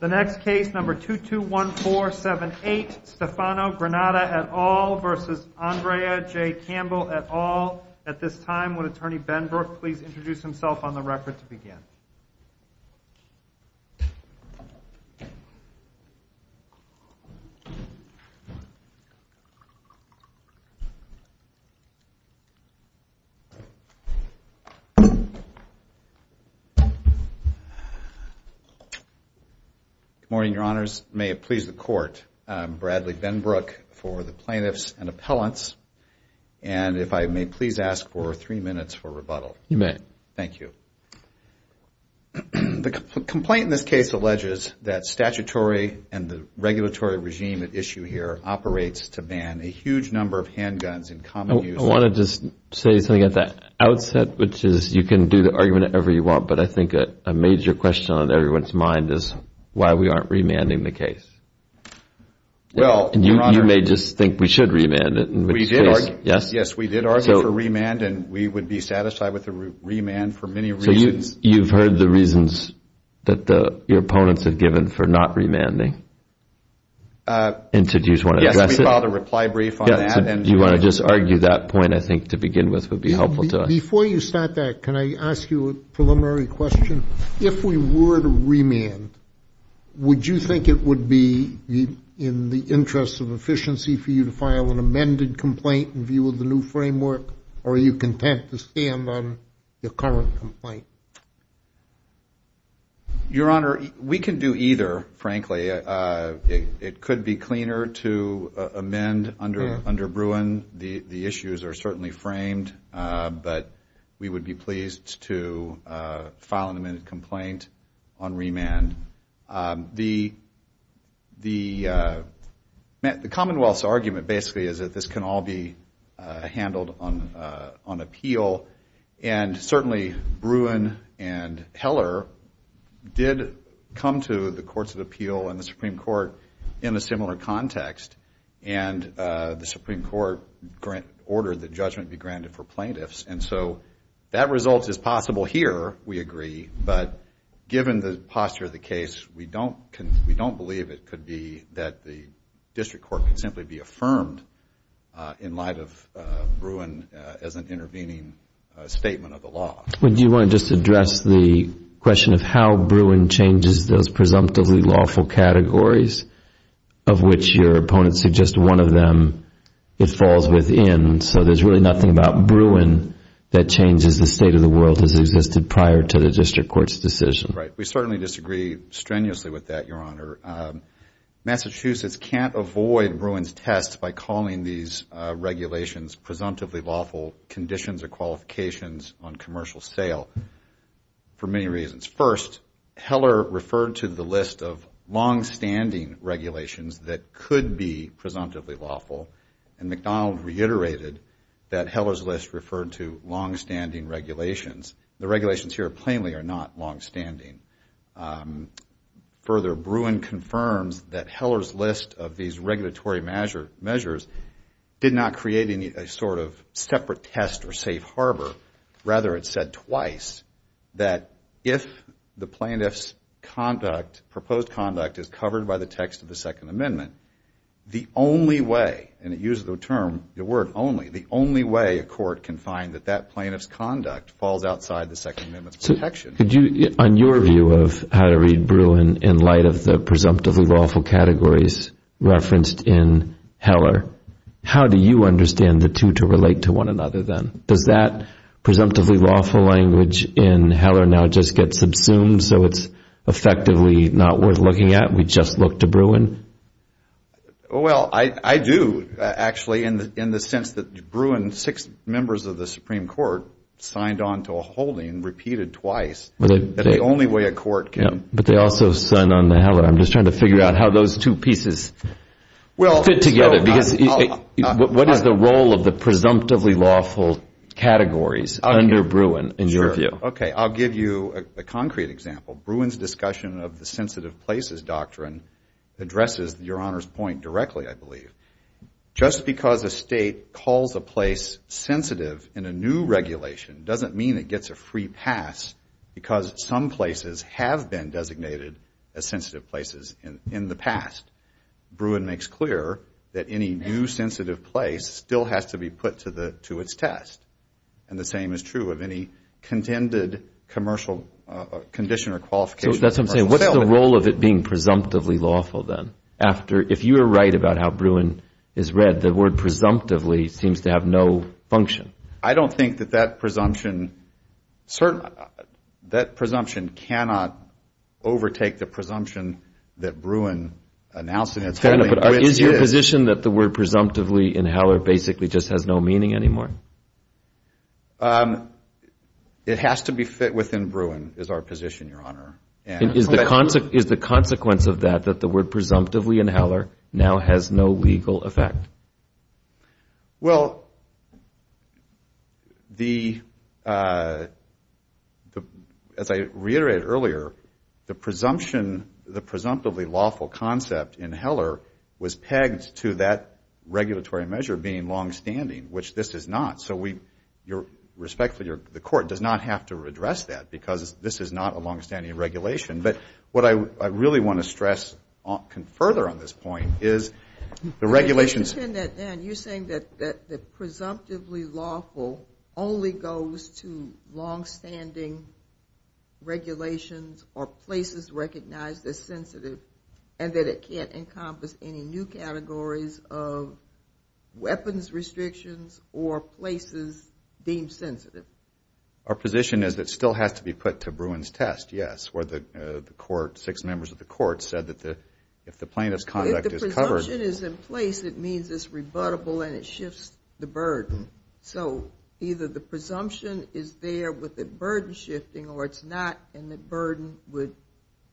The next case, number 221478, Stefano Granata et al. v. Andrea J. Campbell et al. At this time, would Attorney Benbrook please introduce himself on the record to begin. Good morning, Your Honors. May it please the Court, I'm Bradley Benbrook for the Plaintiffs and Appellants. And if I may please ask for three minutes for rebuttal. You may. Thank you. The complaint in this case alleges that statutory and the regulatory regime at issue here operates to ban a huge number of handguns in common use. I want to just say something at the outset, which is you can do the argument however you want, but I think a major question on everyone's mind is why we aren't remanding the case. You may just think we should remand it. Yes, we did argue for remand and we would be satisfied with a remand for many reasons. So you've heard the reasons that your opponents have given for not remanding? Yes, we filed a reply brief on that. Do you want to just argue that point, I think, to begin with would be helpful to us. Before you start that, can I ask you a preliminary question? If we were to remand, would you think it would be in the interest of efficiency for you to file an amended complaint in view of the new framework, or are you content to stand on the current complaint? It could be cleaner to amend under Bruin. The issues are certainly framed, but we would be pleased to file an amended complaint on remand. The Commonwealth's argument basically is that this can all be handled on appeal, and certainly Bruin and Heller did come to the Courts of Appeal and the Supreme Court in a similar context, and the Supreme Court ordered that judgment be granted for plaintiffs. And so that result is possible here, we agree, but given the posture of the case, we don't believe it could be that the district court could simply be affirmed in light of Bruin as an intervening statement of the law. Do you want to just address the question of how Bruin changes those presumptively lawful categories, of which your opponents suggest one of them, it falls within, so there's really nothing about Bruin that changes the state of the world as existed prior to the district court's decision? Right, we certainly disagree strenuously with that, Your Honor. Massachusetts can't avoid Bruin's test by calling these regulations presumptively lawful conditions or qualifications on commercial sale for many reasons. First, Heller referred to the list of longstanding regulations that could be presumptively lawful, and McDonald reiterated that Heller's list referred to longstanding regulations. The regulations here plainly are not longstanding. Further, Bruin confirms that Heller's list of these regulatory measures did not create any sort of separate test or safe harbor. Rather, it said twice that if the plaintiff's conduct, proposed conduct, is covered by the text of the Second Amendment, the only way, and it uses the term, the word only, the only way a court can find that that plaintiff's conduct falls outside the Second Amendment's protection. Could you, on your view of how to read Bruin in light of the presumptively lawful categories referenced in Heller, how do you understand the two to relate to one another then? Does that presumptively lawful language in Heller now just get subsumed so it's effectively not worth looking at? We just look to Bruin? Well, I do, actually, in the sense that Bruin, six members of the Supreme Court, signed on to a holding, repeated twice, that the only way a court can. But they also signed on to Heller. I'm just trying to figure out how those two pieces fit together. What is the role of the presumptively lawful categories under Bruin, in your view? Okay, I'll give you a concrete example. Bruin's discussion of the sensitive places doctrine addresses Your Honor's point directly, I believe. Just because a state calls a place sensitive in a new regulation doesn't mean it gets a free pass because some places have been designated as sensitive places in the past. Bruin makes clear that any new sensitive place still has to be put to its test. And the same is true of any contended condition or qualification. So that's what I'm saying. What's the role of it being presumptively lawful then? If you are right about how Bruin is read, the word presumptively seems to have no function. I don't think that that presumption cannot overtake the presumption that Bruin announces. Is your position that the word presumptively in Heller basically just has no meaning anymore? It has to be fit within Bruin is our position, Your Honor. Is the consequence of that that the word presumptively in Heller now has no legal effect? Well, as I reiterated earlier, the presumptively lawful concept in Heller was pegged to that regulatory measure being longstanding, which this is not. So respectfully, the Court does not have to address that because this is not a longstanding regulation. But what I really want to stress further on this point is the regulations You're saying that the presumptively lawful only goes to longstanding regulations or places recognized as sensitive and that it can't encompass any new categories of weapons restrictions or places deemed sensitive. Our position is it still has to be put to Bruin's test, yes. Six members of the Court said that if the plaintiff's conduct is covered If the presumption is in place, it means it's rebuttable and it shifts the burden. So either the presumption is there with the burden shifting or it's not and the burden would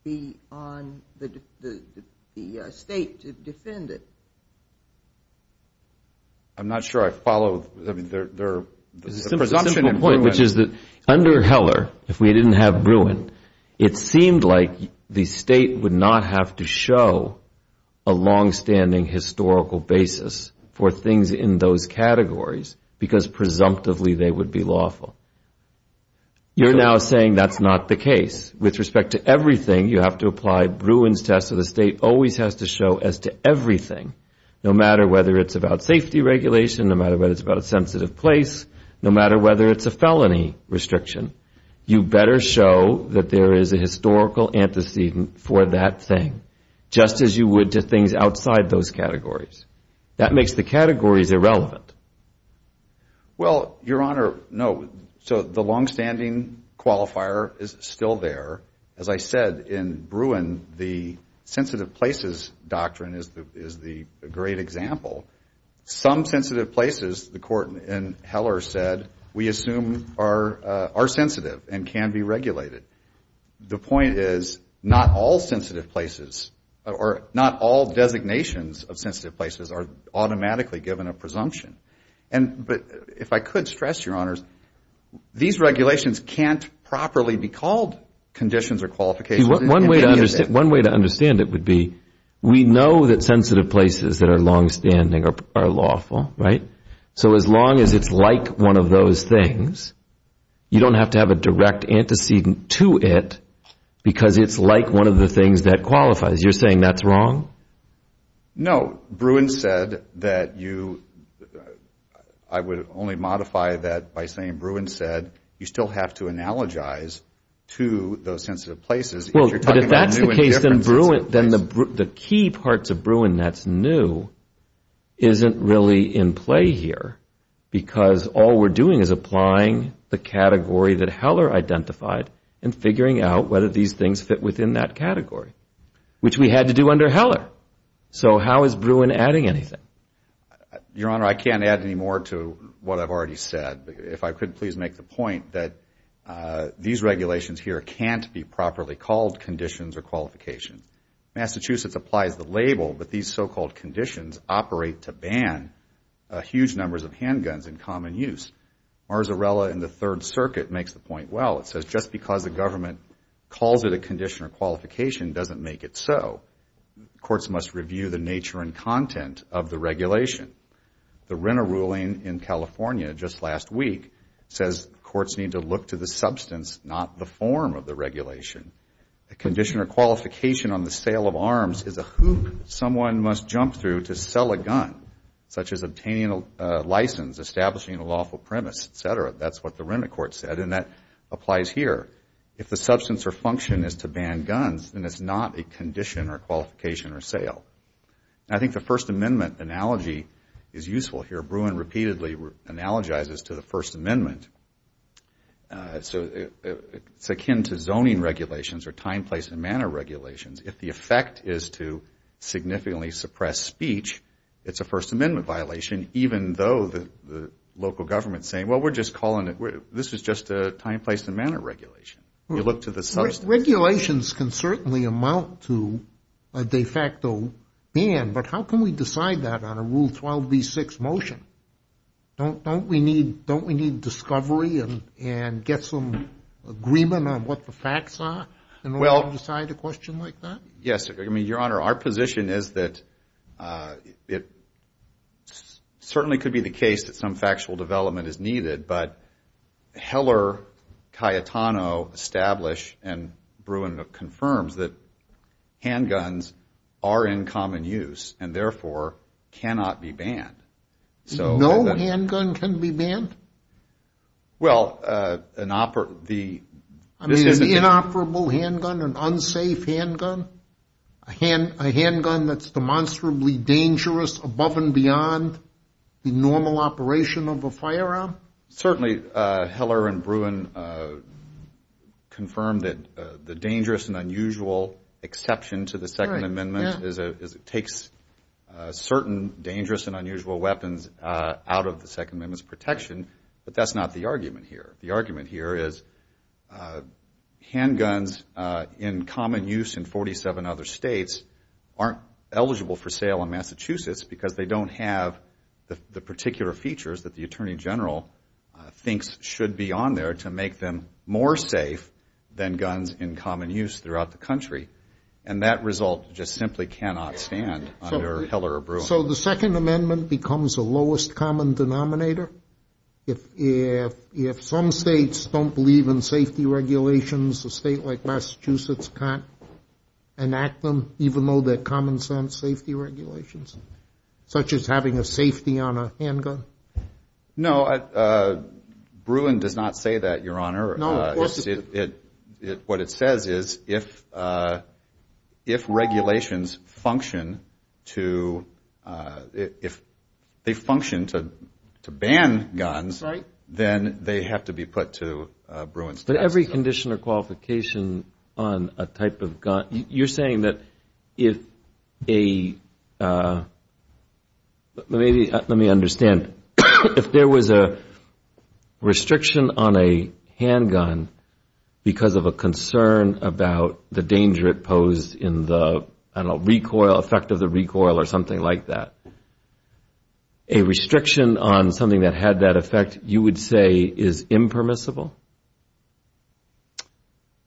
be on the State to defend it. I'm not sure I follow. There's a simple point, which is that under Heller, if we didn't have Bruin, it seemed like the State would not have to show a longstanding historical basis for things in those categories because presumptively they would be lawful. You're now saying that's not the case. With respect to everything, you have to apply Bruin's test, so the State always has to show as to everything, no matter whether it's about safety regulation, no matter whether it's about a sensitive place, no matter whether it's a felony restriction. You better show that there is a historical antecedent for that thing, just as you would to things outside those categories. That makes the categories irrelevant. Well, Your Honor, no. So the longstanding qualifier is still there. As I said, in Bruin, the sensitive places doctrine is the great example. Some sensitive places, the Court in Heller said, we assume are sensitive and can be regulated. The point is not all sensitive places or not all designations of sensitive places are automatically given a presumption. But if I could stress, Your Honors, these regulations can't properly be called conditions or qualifications. One way to understand it would be we know that sensitive places that are longstanding are lawful. So as long as it's like one of those things, you don't have to have a direct antecedent to it because it's like one of the things that qualifies. You're saying that's wrong? No. Bruin said that you, I would only modify that by saying Bruin said you still have to analogize to those sensitive places. Well, but if that's the case, then the key parts of Bruin that's new isn't really in play here because all we're doing is applying the category that Heller identified and figuring out whether these things fit within that category, which we had to do under Heller. So how is Bruin adding anything? Your Honor, I can't add any more to what I've already said. If I could please make the point that these regulations here can't be properly called conditions or qualifications. Massachusetts applies the label, but these so-called conditions operate to ban huge numbers of handguns in common use. Marzarella in the Third Circuit makes the point, well, it says just because the government calls it a condition or qualification doesn't make it so. Courts must review the nature and content of the regulation. The Renner ruling in California just last week says courts need to look to the substance, not the form of the regulation. A condition or qualification on the sale of arms is a hoop someone must jump through to sell a gun, such as obtaining a license, establishing a lawful premise, et cetera. That's what the Renner court said, and that applies here. If the substance or function is to ban guns, then it's not a condition or qualification or sale. I think the First Amendment analogy is useful here. Bruin repeatedly analogizes to the First Amendment. So it's akin to zoning regulations or time, place, and manner regulations. If the effect is to significantly suppress speech, it's a First Amendment violation, even though the local government is saying, well, we're just calling it, this is just a time, place, and manner regulation. You look to the substance. Regulations can certainly amount to a de facto ban, but how can we decide that on a Rule 12b6 motion? Don't we need discovery and get some agreement on what the facts are in order to decide a question like that? Yes, Your Honor, our position is that it certainly could be the case that some factual development is needed, but Heller, Cayetano establish, and Bruin confirms that handguns are in common use, and therefore cannot be banned. No handgun can be banned? Well, an operable handgun, an unsafe handgun? A handgun that's demonstrably dangerous above and beyond the normal operation of a firearm? Certainly, Heller and Bruin confirmed that the dangerous and unusual exception to the Second Amendment is it takes certain dangerous and unusual weapons out of the Second Amendment's protection, but that's not the argument here. The argument here is handguns in common use in 47 other states aren't eligible for sale in Massachusetts because they don't have the particular features that the Attorney General has identified. Heller thinks should be on there to make them more safe than guns in common use throughout the country, and that result just simply cannot stand under Heller or Bruin. So the Second Amendment becomes the lowest common denominator? If some states don't believe in safety regulations, a state like Massachusetts can't enact them, even though they're common-sense safety regulations, such as having a safety on a handgun? No, Bruin does not say that, Your Honor. No, of course it doesn't. What it says is if regulations function to ban guns, then they have to be put to Bruin's test. But every condition or qualification on a type of gun, you're saying that if a... Let me understand. If there was a restriction on a handgun because of a concern about the danger it posed in the recoil, effect of the recoil or something like that, a restriction on something that had that effect, you would say is impermissible?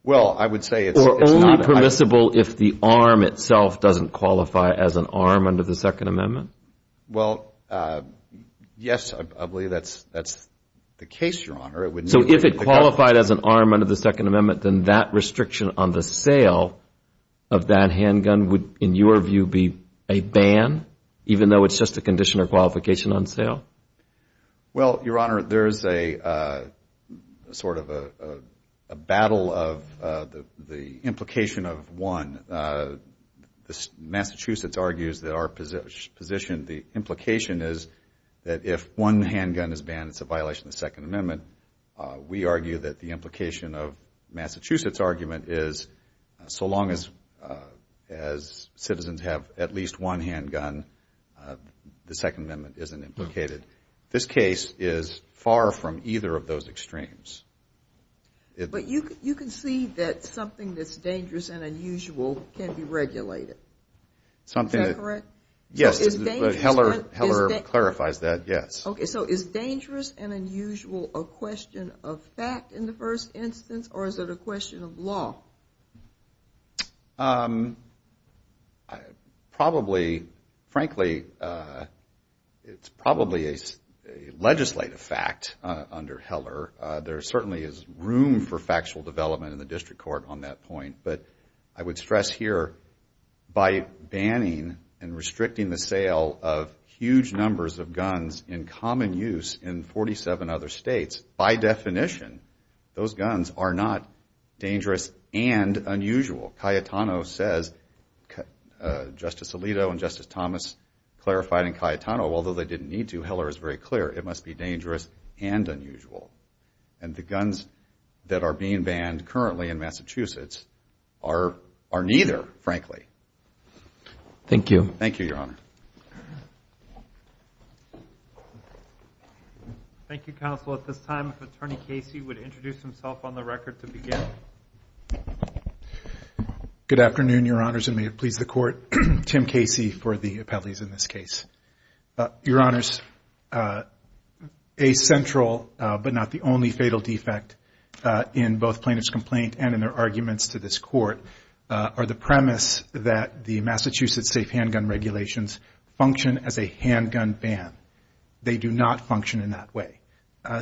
Well, I would say it's not... Or only permissible if the arm itself doesn't qualify as an arm under the Second Amendment? Well, yes, I believe that's the case, Your Honor. So if it qualified as an arm under the Second Amendment, then that restriction on the sale of that handgun would, in your view, be a ban, even though it's just a condition or qualification on sale? Well, Your Honor, there's a sort of a battle of the implication of one. Massachusetts argues that our position, the implication is that if one handgun is banned, it's a violation of the Second Amendment. We argue that the implication of Massachusetts' argument is so long as citizens have at least one handgun, the Second Amendment isn't implicated. This case is far from either of those extremes. But you can see that something that's dangerous and unusual, can be regulated. Is that correct? Yes, but Heller clarifies that, yes. Okay, so is dangerous and unusual a question of fact in the first instance, or is it a question of law? Probably, frankly, it's probably a legislative fact under Heller. There certainly is room for factual development in the district court on that point. But I would stress here, by banning and restricting the sale of huge numbers of guns in common use in 47 other states, by definition, those guns are not dangerous and unusual. Cayetano says, Justice Alito and Justice Thomas clarified in Cayetano, although they didn't need to, Heller is very clear. It must be dangerous and unusual. And the guns that are being banned currently in Massachusetts are neither, frankly. Thank you, Your Honor. Thank you, Counsel. At this time, if Attorney Casey would introduce himself on the record to begin. Good afternoon, Your Honors, and may it please the Court. Tim Casey for the appellees in this case. Your Honors, a central but not the only fatal defect in both plaintiff's complaint and in their arguments to this Court, are the premise that the Massachusetts safe handgun regulations function as a handgun ban. They do not function in that way.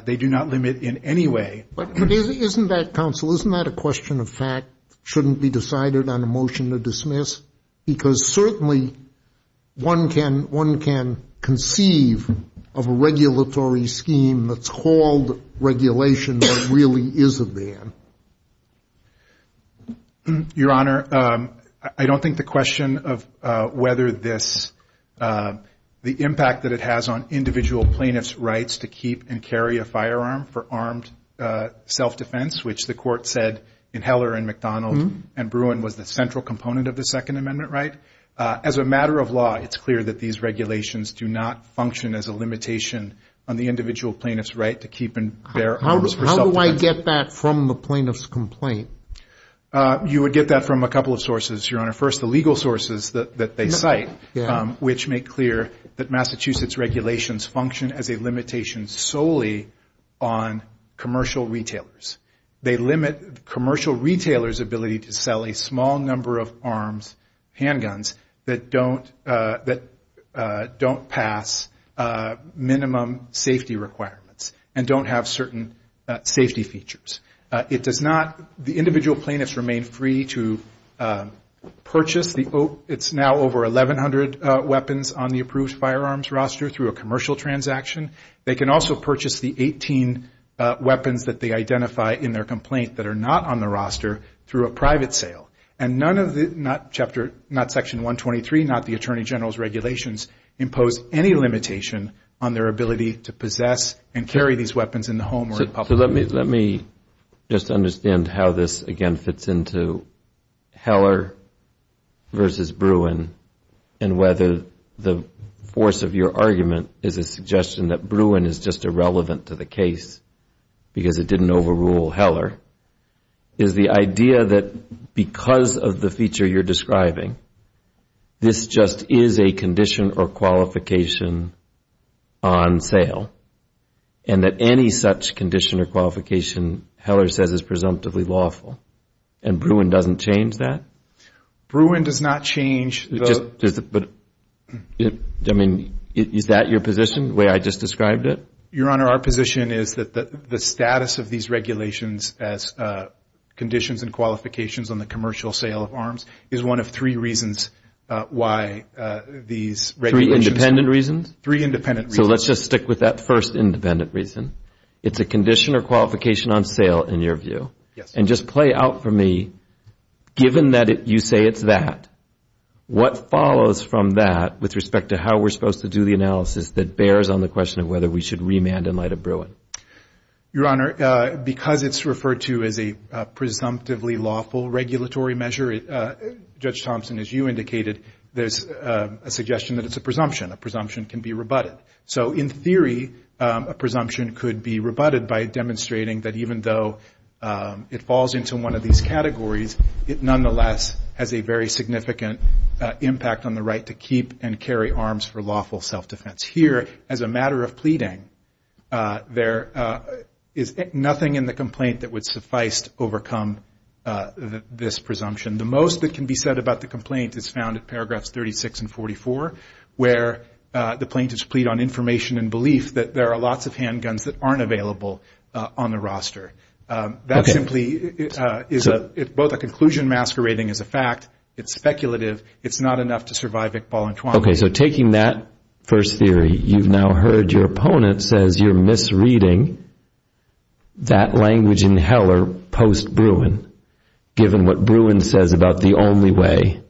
They do not limit in any way. But isn't that, Counsel, isn't that a question of fact, shouldn't be decided on a motion to dismiss? Because certainly one can conceive of a regulatory scheme that's called regulation that really is a ban. Your Honor, I don't think the question of whether this, the impact that it has on individual plaintiff's rights to keep and carry a firearm for armed self-defense, which the Court said in Heller and McDonald and Bruin was the central component of the Second Amendment, as a matter of law, it's clear that these regulations do not function as a limitation on the individual plaintiff's right to keep and bear arms for self-defense. How do I get that from the plaintiff's complaint? You would get that from a couple of sources, Your Honor. First, the legal sources that they cite, which make clear that Massachusetts regulations function as a limitation solely on commercial retailers. They limit commercial retailers' ability to sell a small number of arms, handguns, that don't pass minimum safety requirements and don't have certain safety features. It does not, the individual plaintiffs remain free to purchase, it's now over 1,100 weapons on the approved firearms roster through a commercial transaction. They can also purchase the 18 weapons that they identify in their complaint that are not on the roster through a private sale. And none of the, not Section 123, not the Attorney General's regulations, impose any limitation on their ability to possess and carry these weapons in the home or in public. Let me just understand how this again fits into Heller versus Bruin and whether the force of your argument is a suggestion that Bruin is just irrelevant to the case because it didn't overrule Heller. Is the idea that because of the feature you're describing, this just is a condition or qualification on sale and that any such condition or qualification Heller says is presumptively lawful and Bruin doesn't change that? Bruin does not change the... I mean, is that your position, the way I just described it? Your Honor, our position is that the status of these regulations as conditions and qualifications on the commercial sale of arms is one of three reasons why these regulations... Three independent reasons? Three independent reasons. So let's just stick with that first independent reason. It's a condition or qualification on sale in your view? Yes. And just play out for me, given that you say it's that, what follows from that with respect to how we're supposed to do the analysis that bears on the question of whether we should remand in light of Bruin? Your Honor, because it's referred to as a presumptively lawful regulatory measure, Judge Thompson, as you indicated, there's a suggestion that it's a presumption. A presumption can be rebutted. So in theory, a presumption could be rebutted by demonstrating that even though it falls into one of these categories, it nonetheless has a very significant impact on the right to keep and carry arms for lawful self-defense. Here, as a matter of pleading, there is nothing in the complaint that would suffice to overcome this presumption. The most that can be said about the complaint is found in paragraphs 36 and 44, where the plaintiffs plead on information and belief that there are lots of handguns that aren't available on the roster. That simply is both a conclusion masquerading as a fact. It's speculative. It's not enough to survive Iqbal and Twan. Okay, so taking that first theory, you've now heard your opponent says you're misreading that language in Heller post-Bruin, given what Bruin says about the only way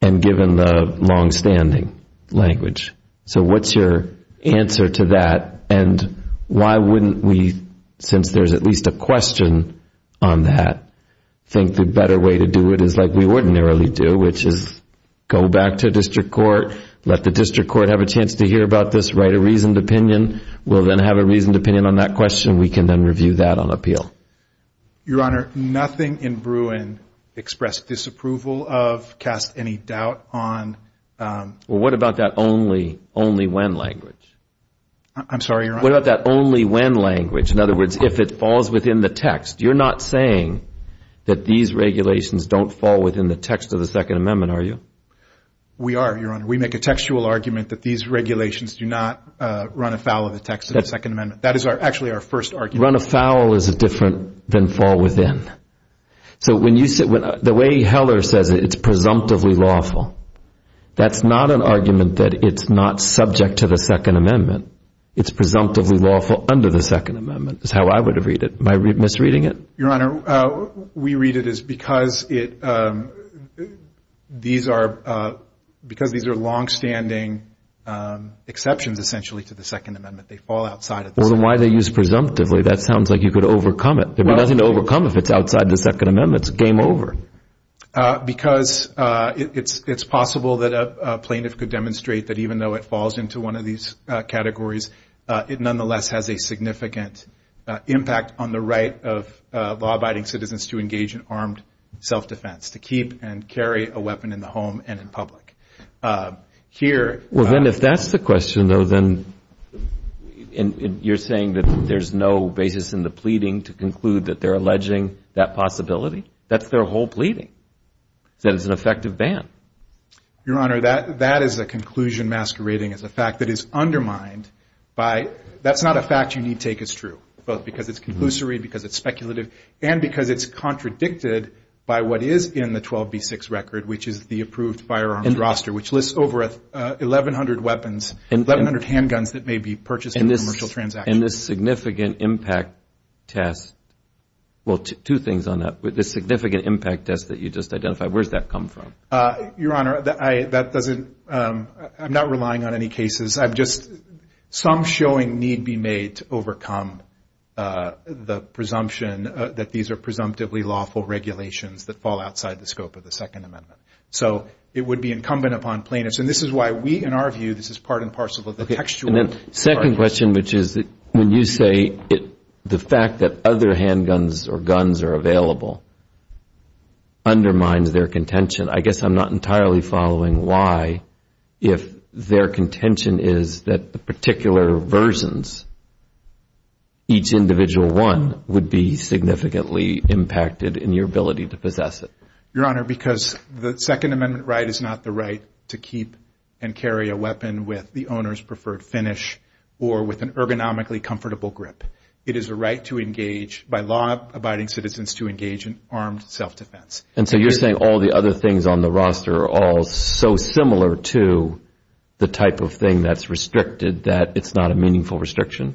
and given the longstanding language. So what's your answer to that? And why wouldn't we, since there's at least a question on that, think the better way to do it is like we ordinarily do, which is go back to district court, let the district court have a chance to hear about this, write a reasoned opinion. We'll then have a reasoned opinion on that question. We can then review that on appeal. Your Honor, nothing in Bruin expressed disapproval of, cast any doubt on... Well, what about that only when language? I'm sorry, Your Honor. What about that only when language? In other words, if it falls within the text. You're not saying that these regulations don't fall within the text of the Second Amendment, are you? We are, Your Honor. We make a textual argument that these regulations do not run afoul of the text of the Second Amendment. That is actually our first argument. Run afoul is different than fall within. So when you say, the way Heller says it, it's presumptively lawful. That's not an argument that it's not subject to the Second Amendment. It's presumptively lawful under the Second Amendment, is how I would have read it. Am I misreading it? Your Honor, we read it as because it, these are, because these are longstanding exceptions, essentially, to the Second Amendment. They fall outside of the Second Amendment. Well, then why do they use presumptively? That sounds like you could overcome it. There'd be nothing to overcome if it's outside the Second Amendment. It's game over. Because it's possible that a plaintiff could demonstrate that even though it falls into one of these categories, it nonetheless has a significant impact on the right of law-abiding citizens to engage in armed self-defense, to keep and carry a weapon in the home and in public. Here... Well, then if that's the question, though, then... You're saying that there's no basis in the pleading to conclude that they're alleging that possibility? That's their whole pleading, that it's an effective ban. Your Honor, that is a conclusion masquerading as a fact that is undermined by, that's not a fact you need take as true, both because it's conclusory, because it's speculative, and because it's contradicted by what is in the 12B6 record, which is the approved firearms roster, which lists over 1,100 weapons, 1,100 handguns that may be purchased in a commercial transaction. And this significant impact test, well, two things on that. The significant impact test that you just identified, where's that come from? Your Honor, that doesn't... I'm not relying on any cases. Some showing need be made to overcome the presumption that these are presumptively lawful regulations that fall outside the scope of the Second Amendment. So it would be incumbent upon plaintiffs, and this is why we, in our view, this is part and parcel of the textual... Okay, and then second question, which is when you say the fact that other handguns or guns are available undermines their contention, I guess I'm not entirely following why, if their contention is that the particular versions, each individual one, would be significantly impacted in your ability to possess it. Your Honor, because the Second Amendment right is not the right to keep and carry a weapon with the owner's preferred finish or with an ergonomically comfortable grip. It is a right by law-abiding citizens to engage in armed self-defense. And so you're saying all the other things on the roster are all so similar to the type of thing that's restricted that it's not a meaningful restriction?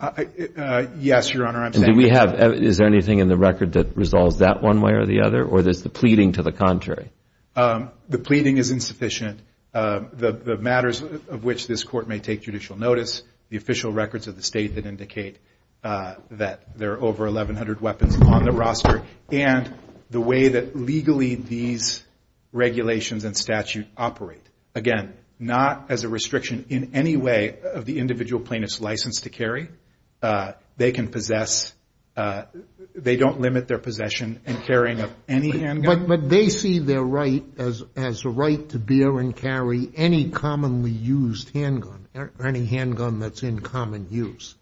Yes, Your Honor, I'm saying... Is there anything in the record that resolves that one way or the other, or there's the pleading to the contrary? The pleading is insufficient. The matters of which this Court may take judicial notice, the official records of the State that indicate that there are over 1,100 weapons on the roster, and the way that legally these regulations and statute operate. Again, not as a restriction in any way of the individual plaintiff's license to carry. They can possess... They don't limit their possession and carrying of any handgun? But they see their right as a right to bear and carry any commonly used handgun, or any handgun that's in common use.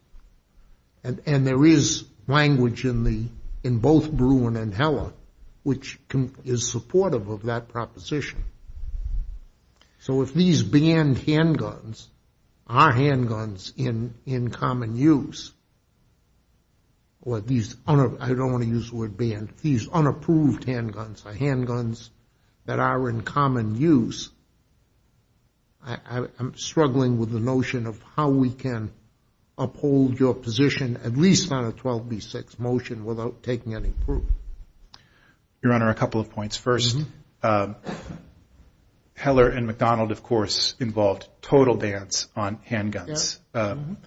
And there is language in both Bruin and Heller which is supportive of that proposition. So if these banned handguns are handguns in common use, or these... I don't want to use the word banned. These unapproved handguns are handguns that are in common use. I'm struggling with the notion of how we can uphold your position at least on a 12b6 motion without taking any proof. Your Honor, a couple of points. First, Heller and McDonald, of course, involved total bans on handguns. Bruin...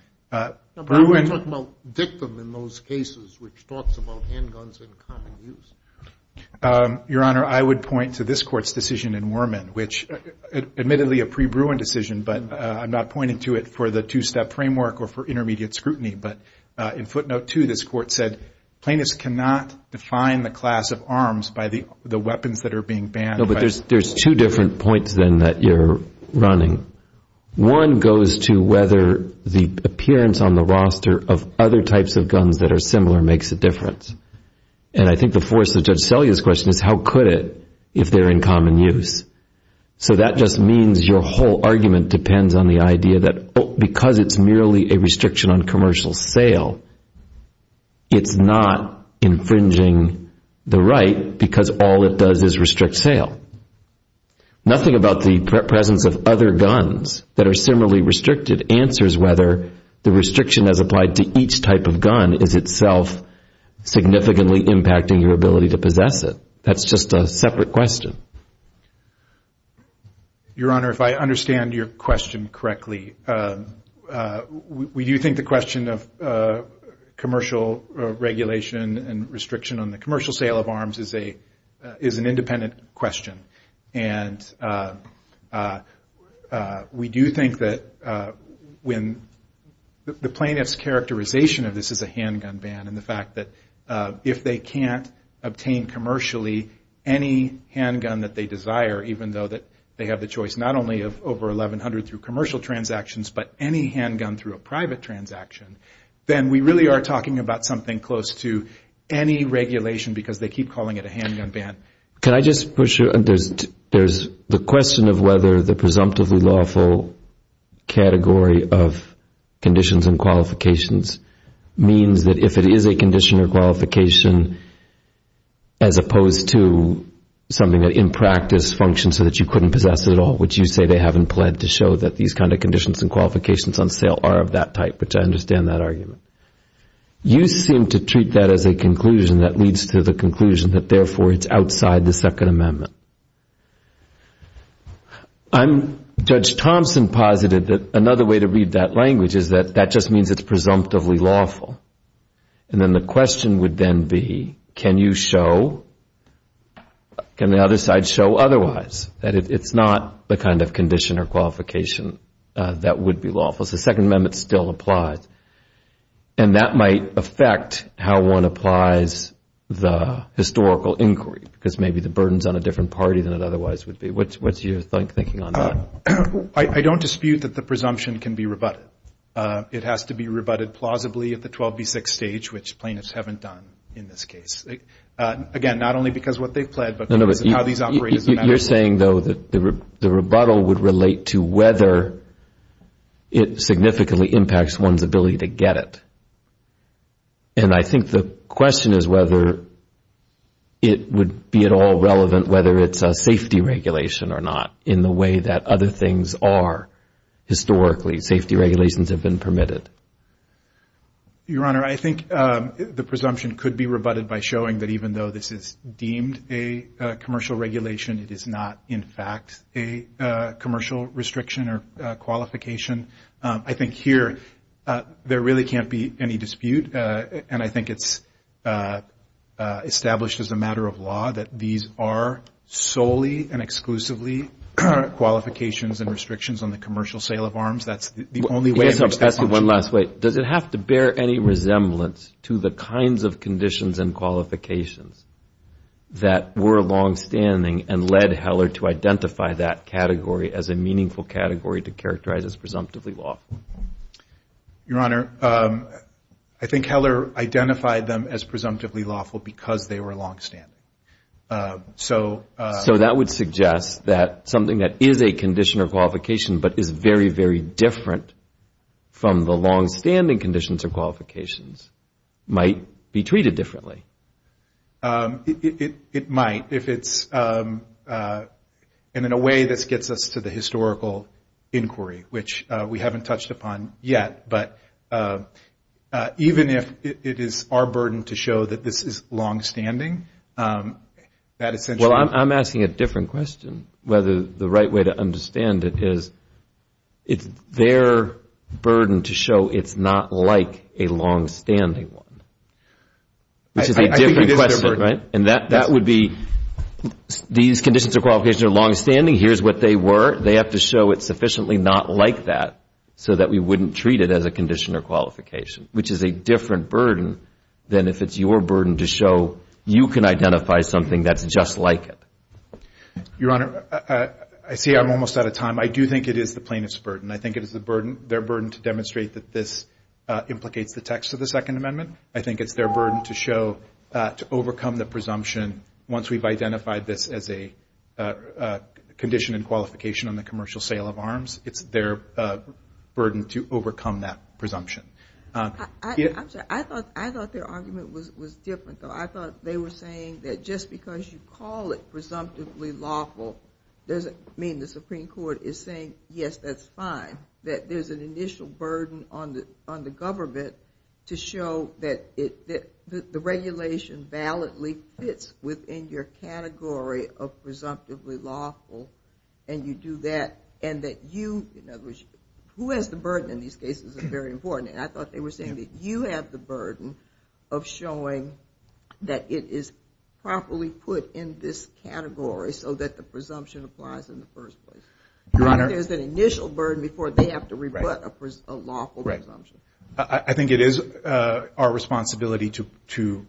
Your Honor, I would point to this Court's decision in Worman, which admittedly a pre-Bruin decision, but I'm not pointing to it for the two-step framework or for intermediate scrutiny. But in footnote 2, this Court said, plaintiffs cannot define the class of arms by the weapons that are being banned. No, but there's two different points then that you're running. One goes to whether the appearance on the roster of other types of guns that are similar makes a difference. And I think the force of Judge Selye's question is, how could it if they're in common use? So that just means your whole argument depends on the idea that because it's merely a restriction on commercial sale, it's not infringing the right because all it does is restrict sale. Nothing about the presence of other guns that are similarly restricted answers whether the restriction as applied to each type of gun is itself significantly impacting your ability to possess it. That's just a separate question. Your Honor, if I understand your question correctly, we do think the question of commercial regulation and restriction on the commercial sale of arms is an independent question. And we do think that when the plaintiff's characterization of this is a handgun ban and the fact that if they can't obtain commercially any handgun that they desire, even though they have the choice not only of over 1,100 through commercial transactions but any handgun through a private transaction, then we really are talking about something close to any regulation because they keep calling it a handgun ban. Can I just push you? There's the question of whether the presumptively lawful category of conditions and qualifications means that if it is a condition or qualification as opposed to something that in practice functions so that you couldn't possess it at all, which you say they haven't pled to show that these kinds of conditions and qualifications on sale are of that type, which I understand that argument. You seem to treat that as a conclusion that leads to the conclusion that therefore it's outside the Second Amendment. Judge Thompson posited that another way to read that language is that that just means it's presumptively lawful. And then the question would then be can you show, can the other side show otherwise, that it's not the kind of condition or qualification that would be lawful as the Second Amendment still applies. And that might affect how one applies the historical inquiry because maybe the burden is on a different party than it otherwise would be. What's your thinking on that? I don't dispute that the presumption can be rebutted. It has to be rebutted plausibly at the 12B6 stage, which plaintiffs haven't done in this case. Again, not only because of what they've pled, but because of how these operators have acted. You're saying, though, that the rebuttal would relate to whether it significantly impacts one's ability to get it. And I think the question is whether it would be at all relevant whether it's a safety regulation or not in the way that other things are historically. Safety regulations have been permitted. Your Honor, I think the presumption could be rebutted by showing that even though this is deemed a commercial regulation, it is not, in fact, a commercial restriction or qualification. I think here there really can't be any dispute and I think it's established as a matter of law that these are solely and exclusively qualifications and restrictions on the commercial sale of arms. That's the only way in which they function. Does it have to bear any resemblance to the kinds of conditions and qualifications that were longstanding and led Heller to identify that category as a meaningful category to characterize as presumptively lawful? Your Honor, I think Heller identified them as presumptively lawful because they were longstanding. So that would suggest that something that is a condition or qualification but is very, very different from the longstanding conditions or qualifications might be treated differently. It might. And in a way, this gets us to the historical inquiry which we haven't touched upon yet. But even if it is our burden to show that this is longstanding, that essentially... Well, I'm asking a different question. Whether the right way to understand it is it's their burden to show it's not like a longstanding one, which is a different question, right? And that would be these conditions or qualifications are longstanding. Here's what they were. They have to show it's sufficiently not like that so that we wouldn't treat it as a condition or qualification, which is a different burden than if it's your burden to show you can identify something that's just like it. Your Honor, I see I'm almost out of time. I do think it is the plaintiff's burden. I think it is their burden to demonstrate that this implicates the text of the Second Amendment. I think it's their burden to show, to overcome the presumption once we've identified this as a condition and qualification on the commercial sale of arms. It's their burden to overcome that presumption. I'm sorry. I thought their argument was different, though. I thought they were saying that just because you call it presumptively lawful doesn't mean the Supreme Court is saying, yes, that's fine, that there's an initial burden on the government to show that the regulation validly fits within your category of presumptively lawful and you do that and that you, in other words, who has the burden in these cases is very important. And I thought they were saying that you have the burden of showing that it is properly put in this category so that the presumption applies in the first place. There's an initial burden before they have to rebut a lawful presumption. I think it is our responsibility to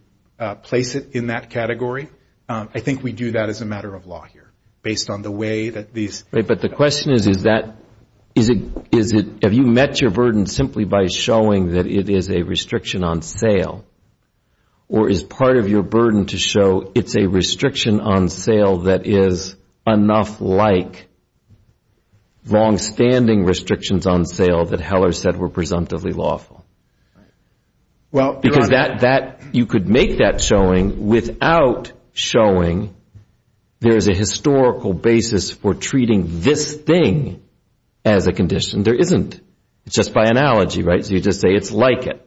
place it in that category. I think we do that as a matter of law here based on the way that these... you're showing that it is a restriction on sale or is part of your burden to show it's a restriction on sale that is enough like long-standing restrictions on sale that Heller said were presumptively lawful. Because that, you could make that showing without showing there is a historical basis for treating this thing as a condition. There isn't. It's just by analogy, right? So you just say it's like it.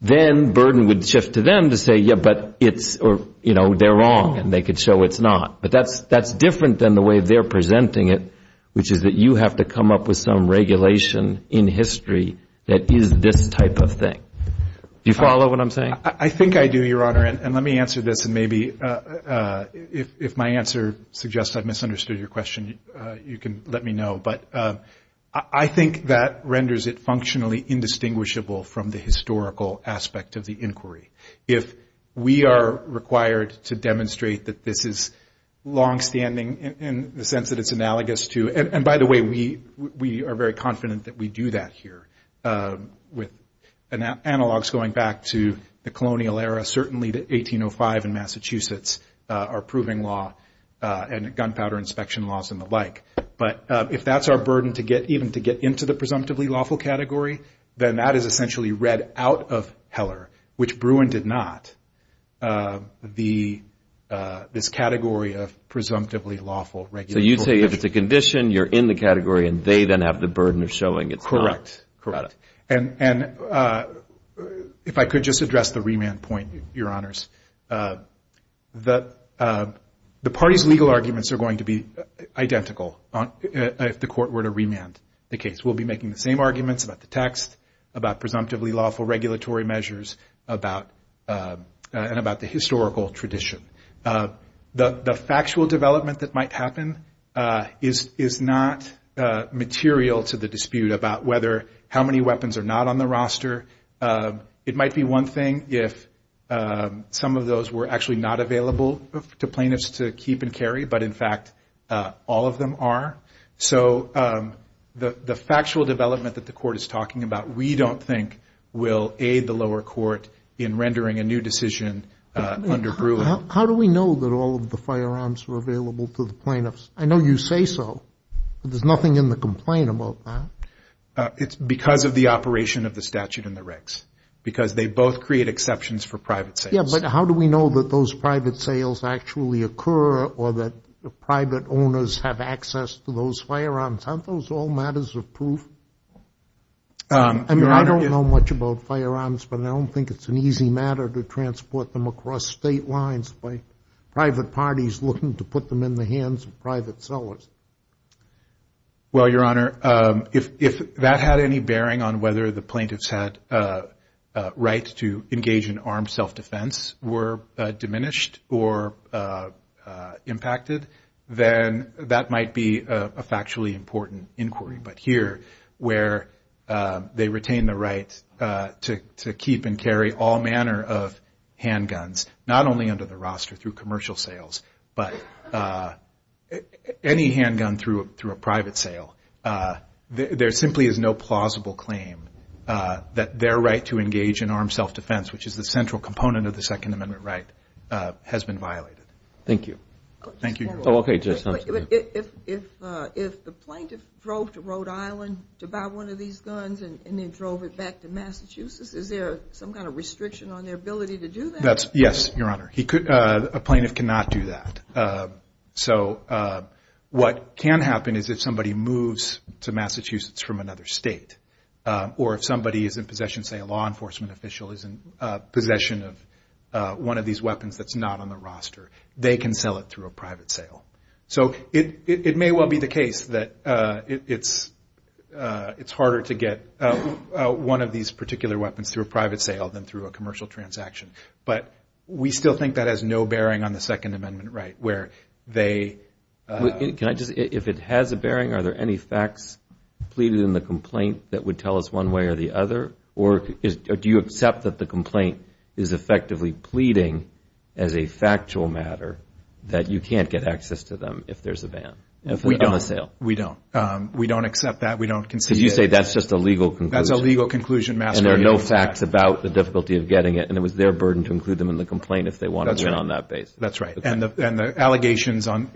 Then burden would shift to them to say, yeah, but they're wrong and they could show it's not. But that's different than the way they're presenting it, which is that you have to come up with some regulation in history that is this type of thing. Do you follow what I'm saying? I think I do, Your Honor, and let me answer this and maybe if my answer suggests I've misunderstood your question, you can let me know. I think that renders it functionally indistinguishable from the historical aspect of the inquiry. If we are required to demonstrate that this is long-standing in the sense that it's analogous to... and by the way, we are very confident that we do that here with analogs going back to the colonial era, certainly to 1805 in Massachusetts, our proving law and gunpowder inspection laws and the like. But if that's our burden to get even to get into the presumptively lawful category, then that is essentially read out of Heller, which Bruin did not, this category of presumptively lawful regulation. So you say if it's a condition, you're in the category and they then have the burden of showing it's not. Correct. If I could just address the remand point, Your Honors. The party's legal arguments are going to be identical if the court were to remand the case. We'll be making the same arguments about the text, about presumptively lawful regulatory measures, and about the historical tradition. The factual development that might happen is not material to the dispute about how many weapons are not on the roster. It might be one thing if some of those were actually not available to plaintiffs to keep and carry, but in fact, all of them are. So the factual development that the court is talking about we don't think will aid the lower court in rendering a new decision under Bruin. How do we know that all of the firearms are available to the plaintiffs? I know you say so, but there's nothing in the complaint about that. It's because of the operation of the statute and the regs, because they both create exceptions for private sales. Yeah, but how do we know that those private sales actually occur or that private owners have access to those firearms? Aren't those all matters of proof? I don't know much about firearms, but I don't think it's an easy matter to transport them across state lines by private parties looking to put them in the hands of private sellers. Well, Your Honor, if that had any bearing on whether the plaintiffs had a right to engage in armed self-defense were diminished or impacted, then that might be a factually important inquiry. But here, where they retain the right to keep and carry all manner of handguns, not only under the roster through commercial sales, but any handgun through a private sale, there simply is no plausible claim that their right to engage in armed self-defense, which is the central component of the Second Amendment right, has been violated. Thank you. If the plaintiff drove to Rhode Island to buy one of these guns and then drove it back to Massachusetts, is there some kind of restriction on their ability to do that? Yes, Your Honor. A plaintiff cannot do that. So what can happen is if somebody moves to Massachusetts from another state or if somebody is in possession, say a law enforcement official is in possession of one of these weapons that's not on the roster, they can sell it through a private sale. So it may well be the case that it's harder to get one of these particular weapons through a private sale than through a commercial transaction. But we still think that has no bearing on the Second Amendment right. If it has a bearing, are there any facts pleaded in the complaint that would tell us one way or the other? Or do you accept that the complaint is effectively pleading as a factual matter that you can't get access to them if there's a van on the sale? We don't. We don't accept that. Because you say that's just a legal conclusion. And there are no facts about the difficulty of getting it. And it was their burden to include them in the complaint if they wanted to get on that base. That's right. And the allegations on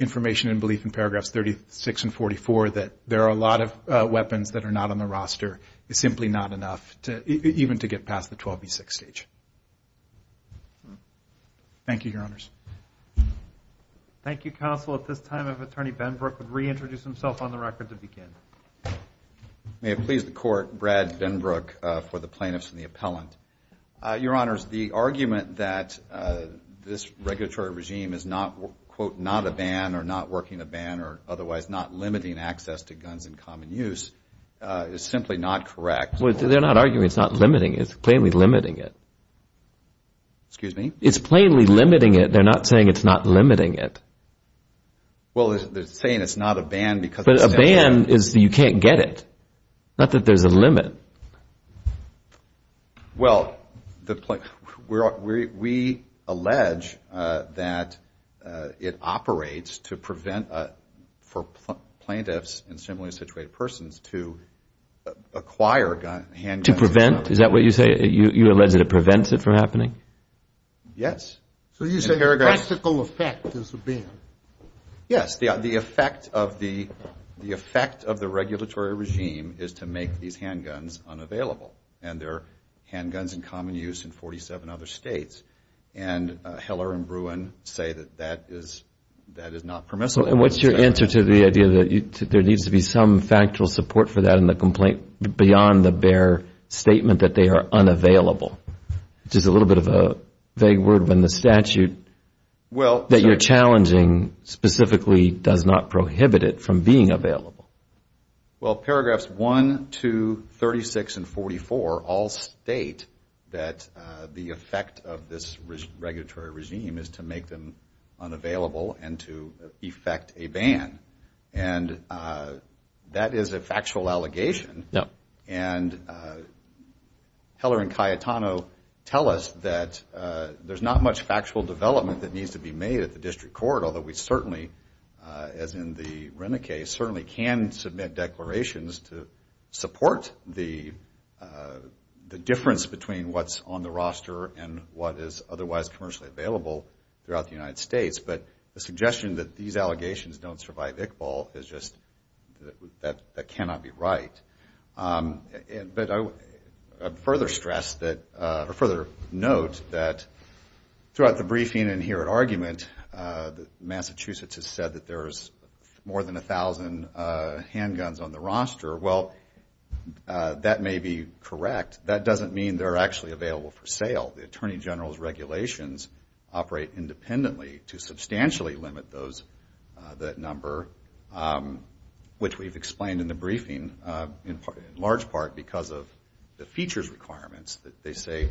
information and belief in paragraphs 36 and 44 that there are a lot of weapons that are not on the roster is simply not enough even to get past the 12B6 stage. Thank you, Your Honors. Thank you, Counsel. At this time, if Attorney Benbrook would reintroduce himself on the record to begin. May it please the Court, Brad Benbrook for the plaintiffs and the appellant. Your Honors, the argument that this regulatory regime is not, quote, not a ban or not working a ban or otherwise not limiting access to guns in common use is simply not correct. They're not arguing it's not limiting. It's plainly limiting it. Excuse me? It's plainly limiting it. They're not saying it's not limiting it. Well, they're saying it's not a ban because... But a ban is that you can't get it. Not that there's a limit. Well, we allege that it operates to prevent for plaintiffs and similarly situated persons to acquire handguns. To prevent? Is that what you say? You allege that it prevents it from happening? Yes. So you say the practical effect is a ban? Yes. The effect of the regulatory regime is to make these handguns unavailable. And there are handguns in common use in 47 other states. And Heller and Bruin say that that is not permissible. And what's your answer to the idea that there needs to be some factual support for that in the complaint beyond the bare statement that they are unavailable? Which is a little bit of a vague word when the statute that you're challenging specifically does not prohibit it from being available. Well, paragraphs 1, 2, 36, and 44 all state that the effect of this regulatory regime is to make them a ban. And that is a factual allegation. And Heller and Cayetano tell us that there's not much factual development that needs to be made at the district court, although we certainly, as in the Rene case, certainly can submit declarations to support the difference between what's on the roster and what is otherwise commercially available throughout the United States. But the suggestion that these allegations don't survive Iqbal is just, that cannot be right. But I would further stress that, or further note that throughout the briefing and here at argument Massachusetts has said that there's more than a thousand handguns on the roster. Well, that may be correct. That doesn't mean they're actually available for sale. The Attorney General's regulations operate independently to substantially limit that number which we've explained in the briefing in large part because of the features requirements that they say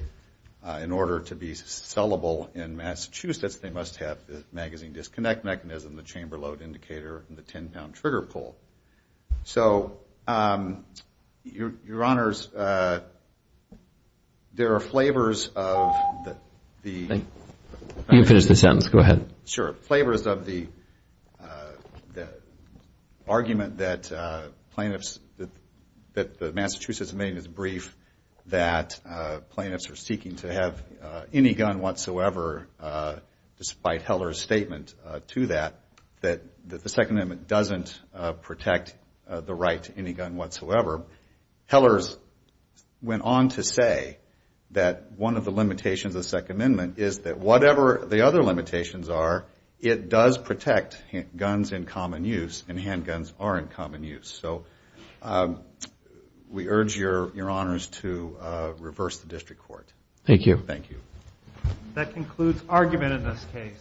in order to be sellable in Massachusetts they must have the magazine disconnect mechanism, the chamber load indicator and the 10-pound trigger pull. So, Your Honors, there are flavors of the You can finish the sentence. Go ahead. Sure. Flavors of the argument that plaintiffs that the Massachusetts maiden is brief that plaintiffs are seeking to have any gun whatsoever despite Heller's statement to that, that the Second Amendment doesn't protect the right to any gun whatsoever. Heller's went on to say that one of the limitations of the Second Amendment is that whatever the other limitations are it does protect guns in common use and handguns are in common use. We urge Your Honors to reverse the District Court. Thank you. That concludes argument in this case.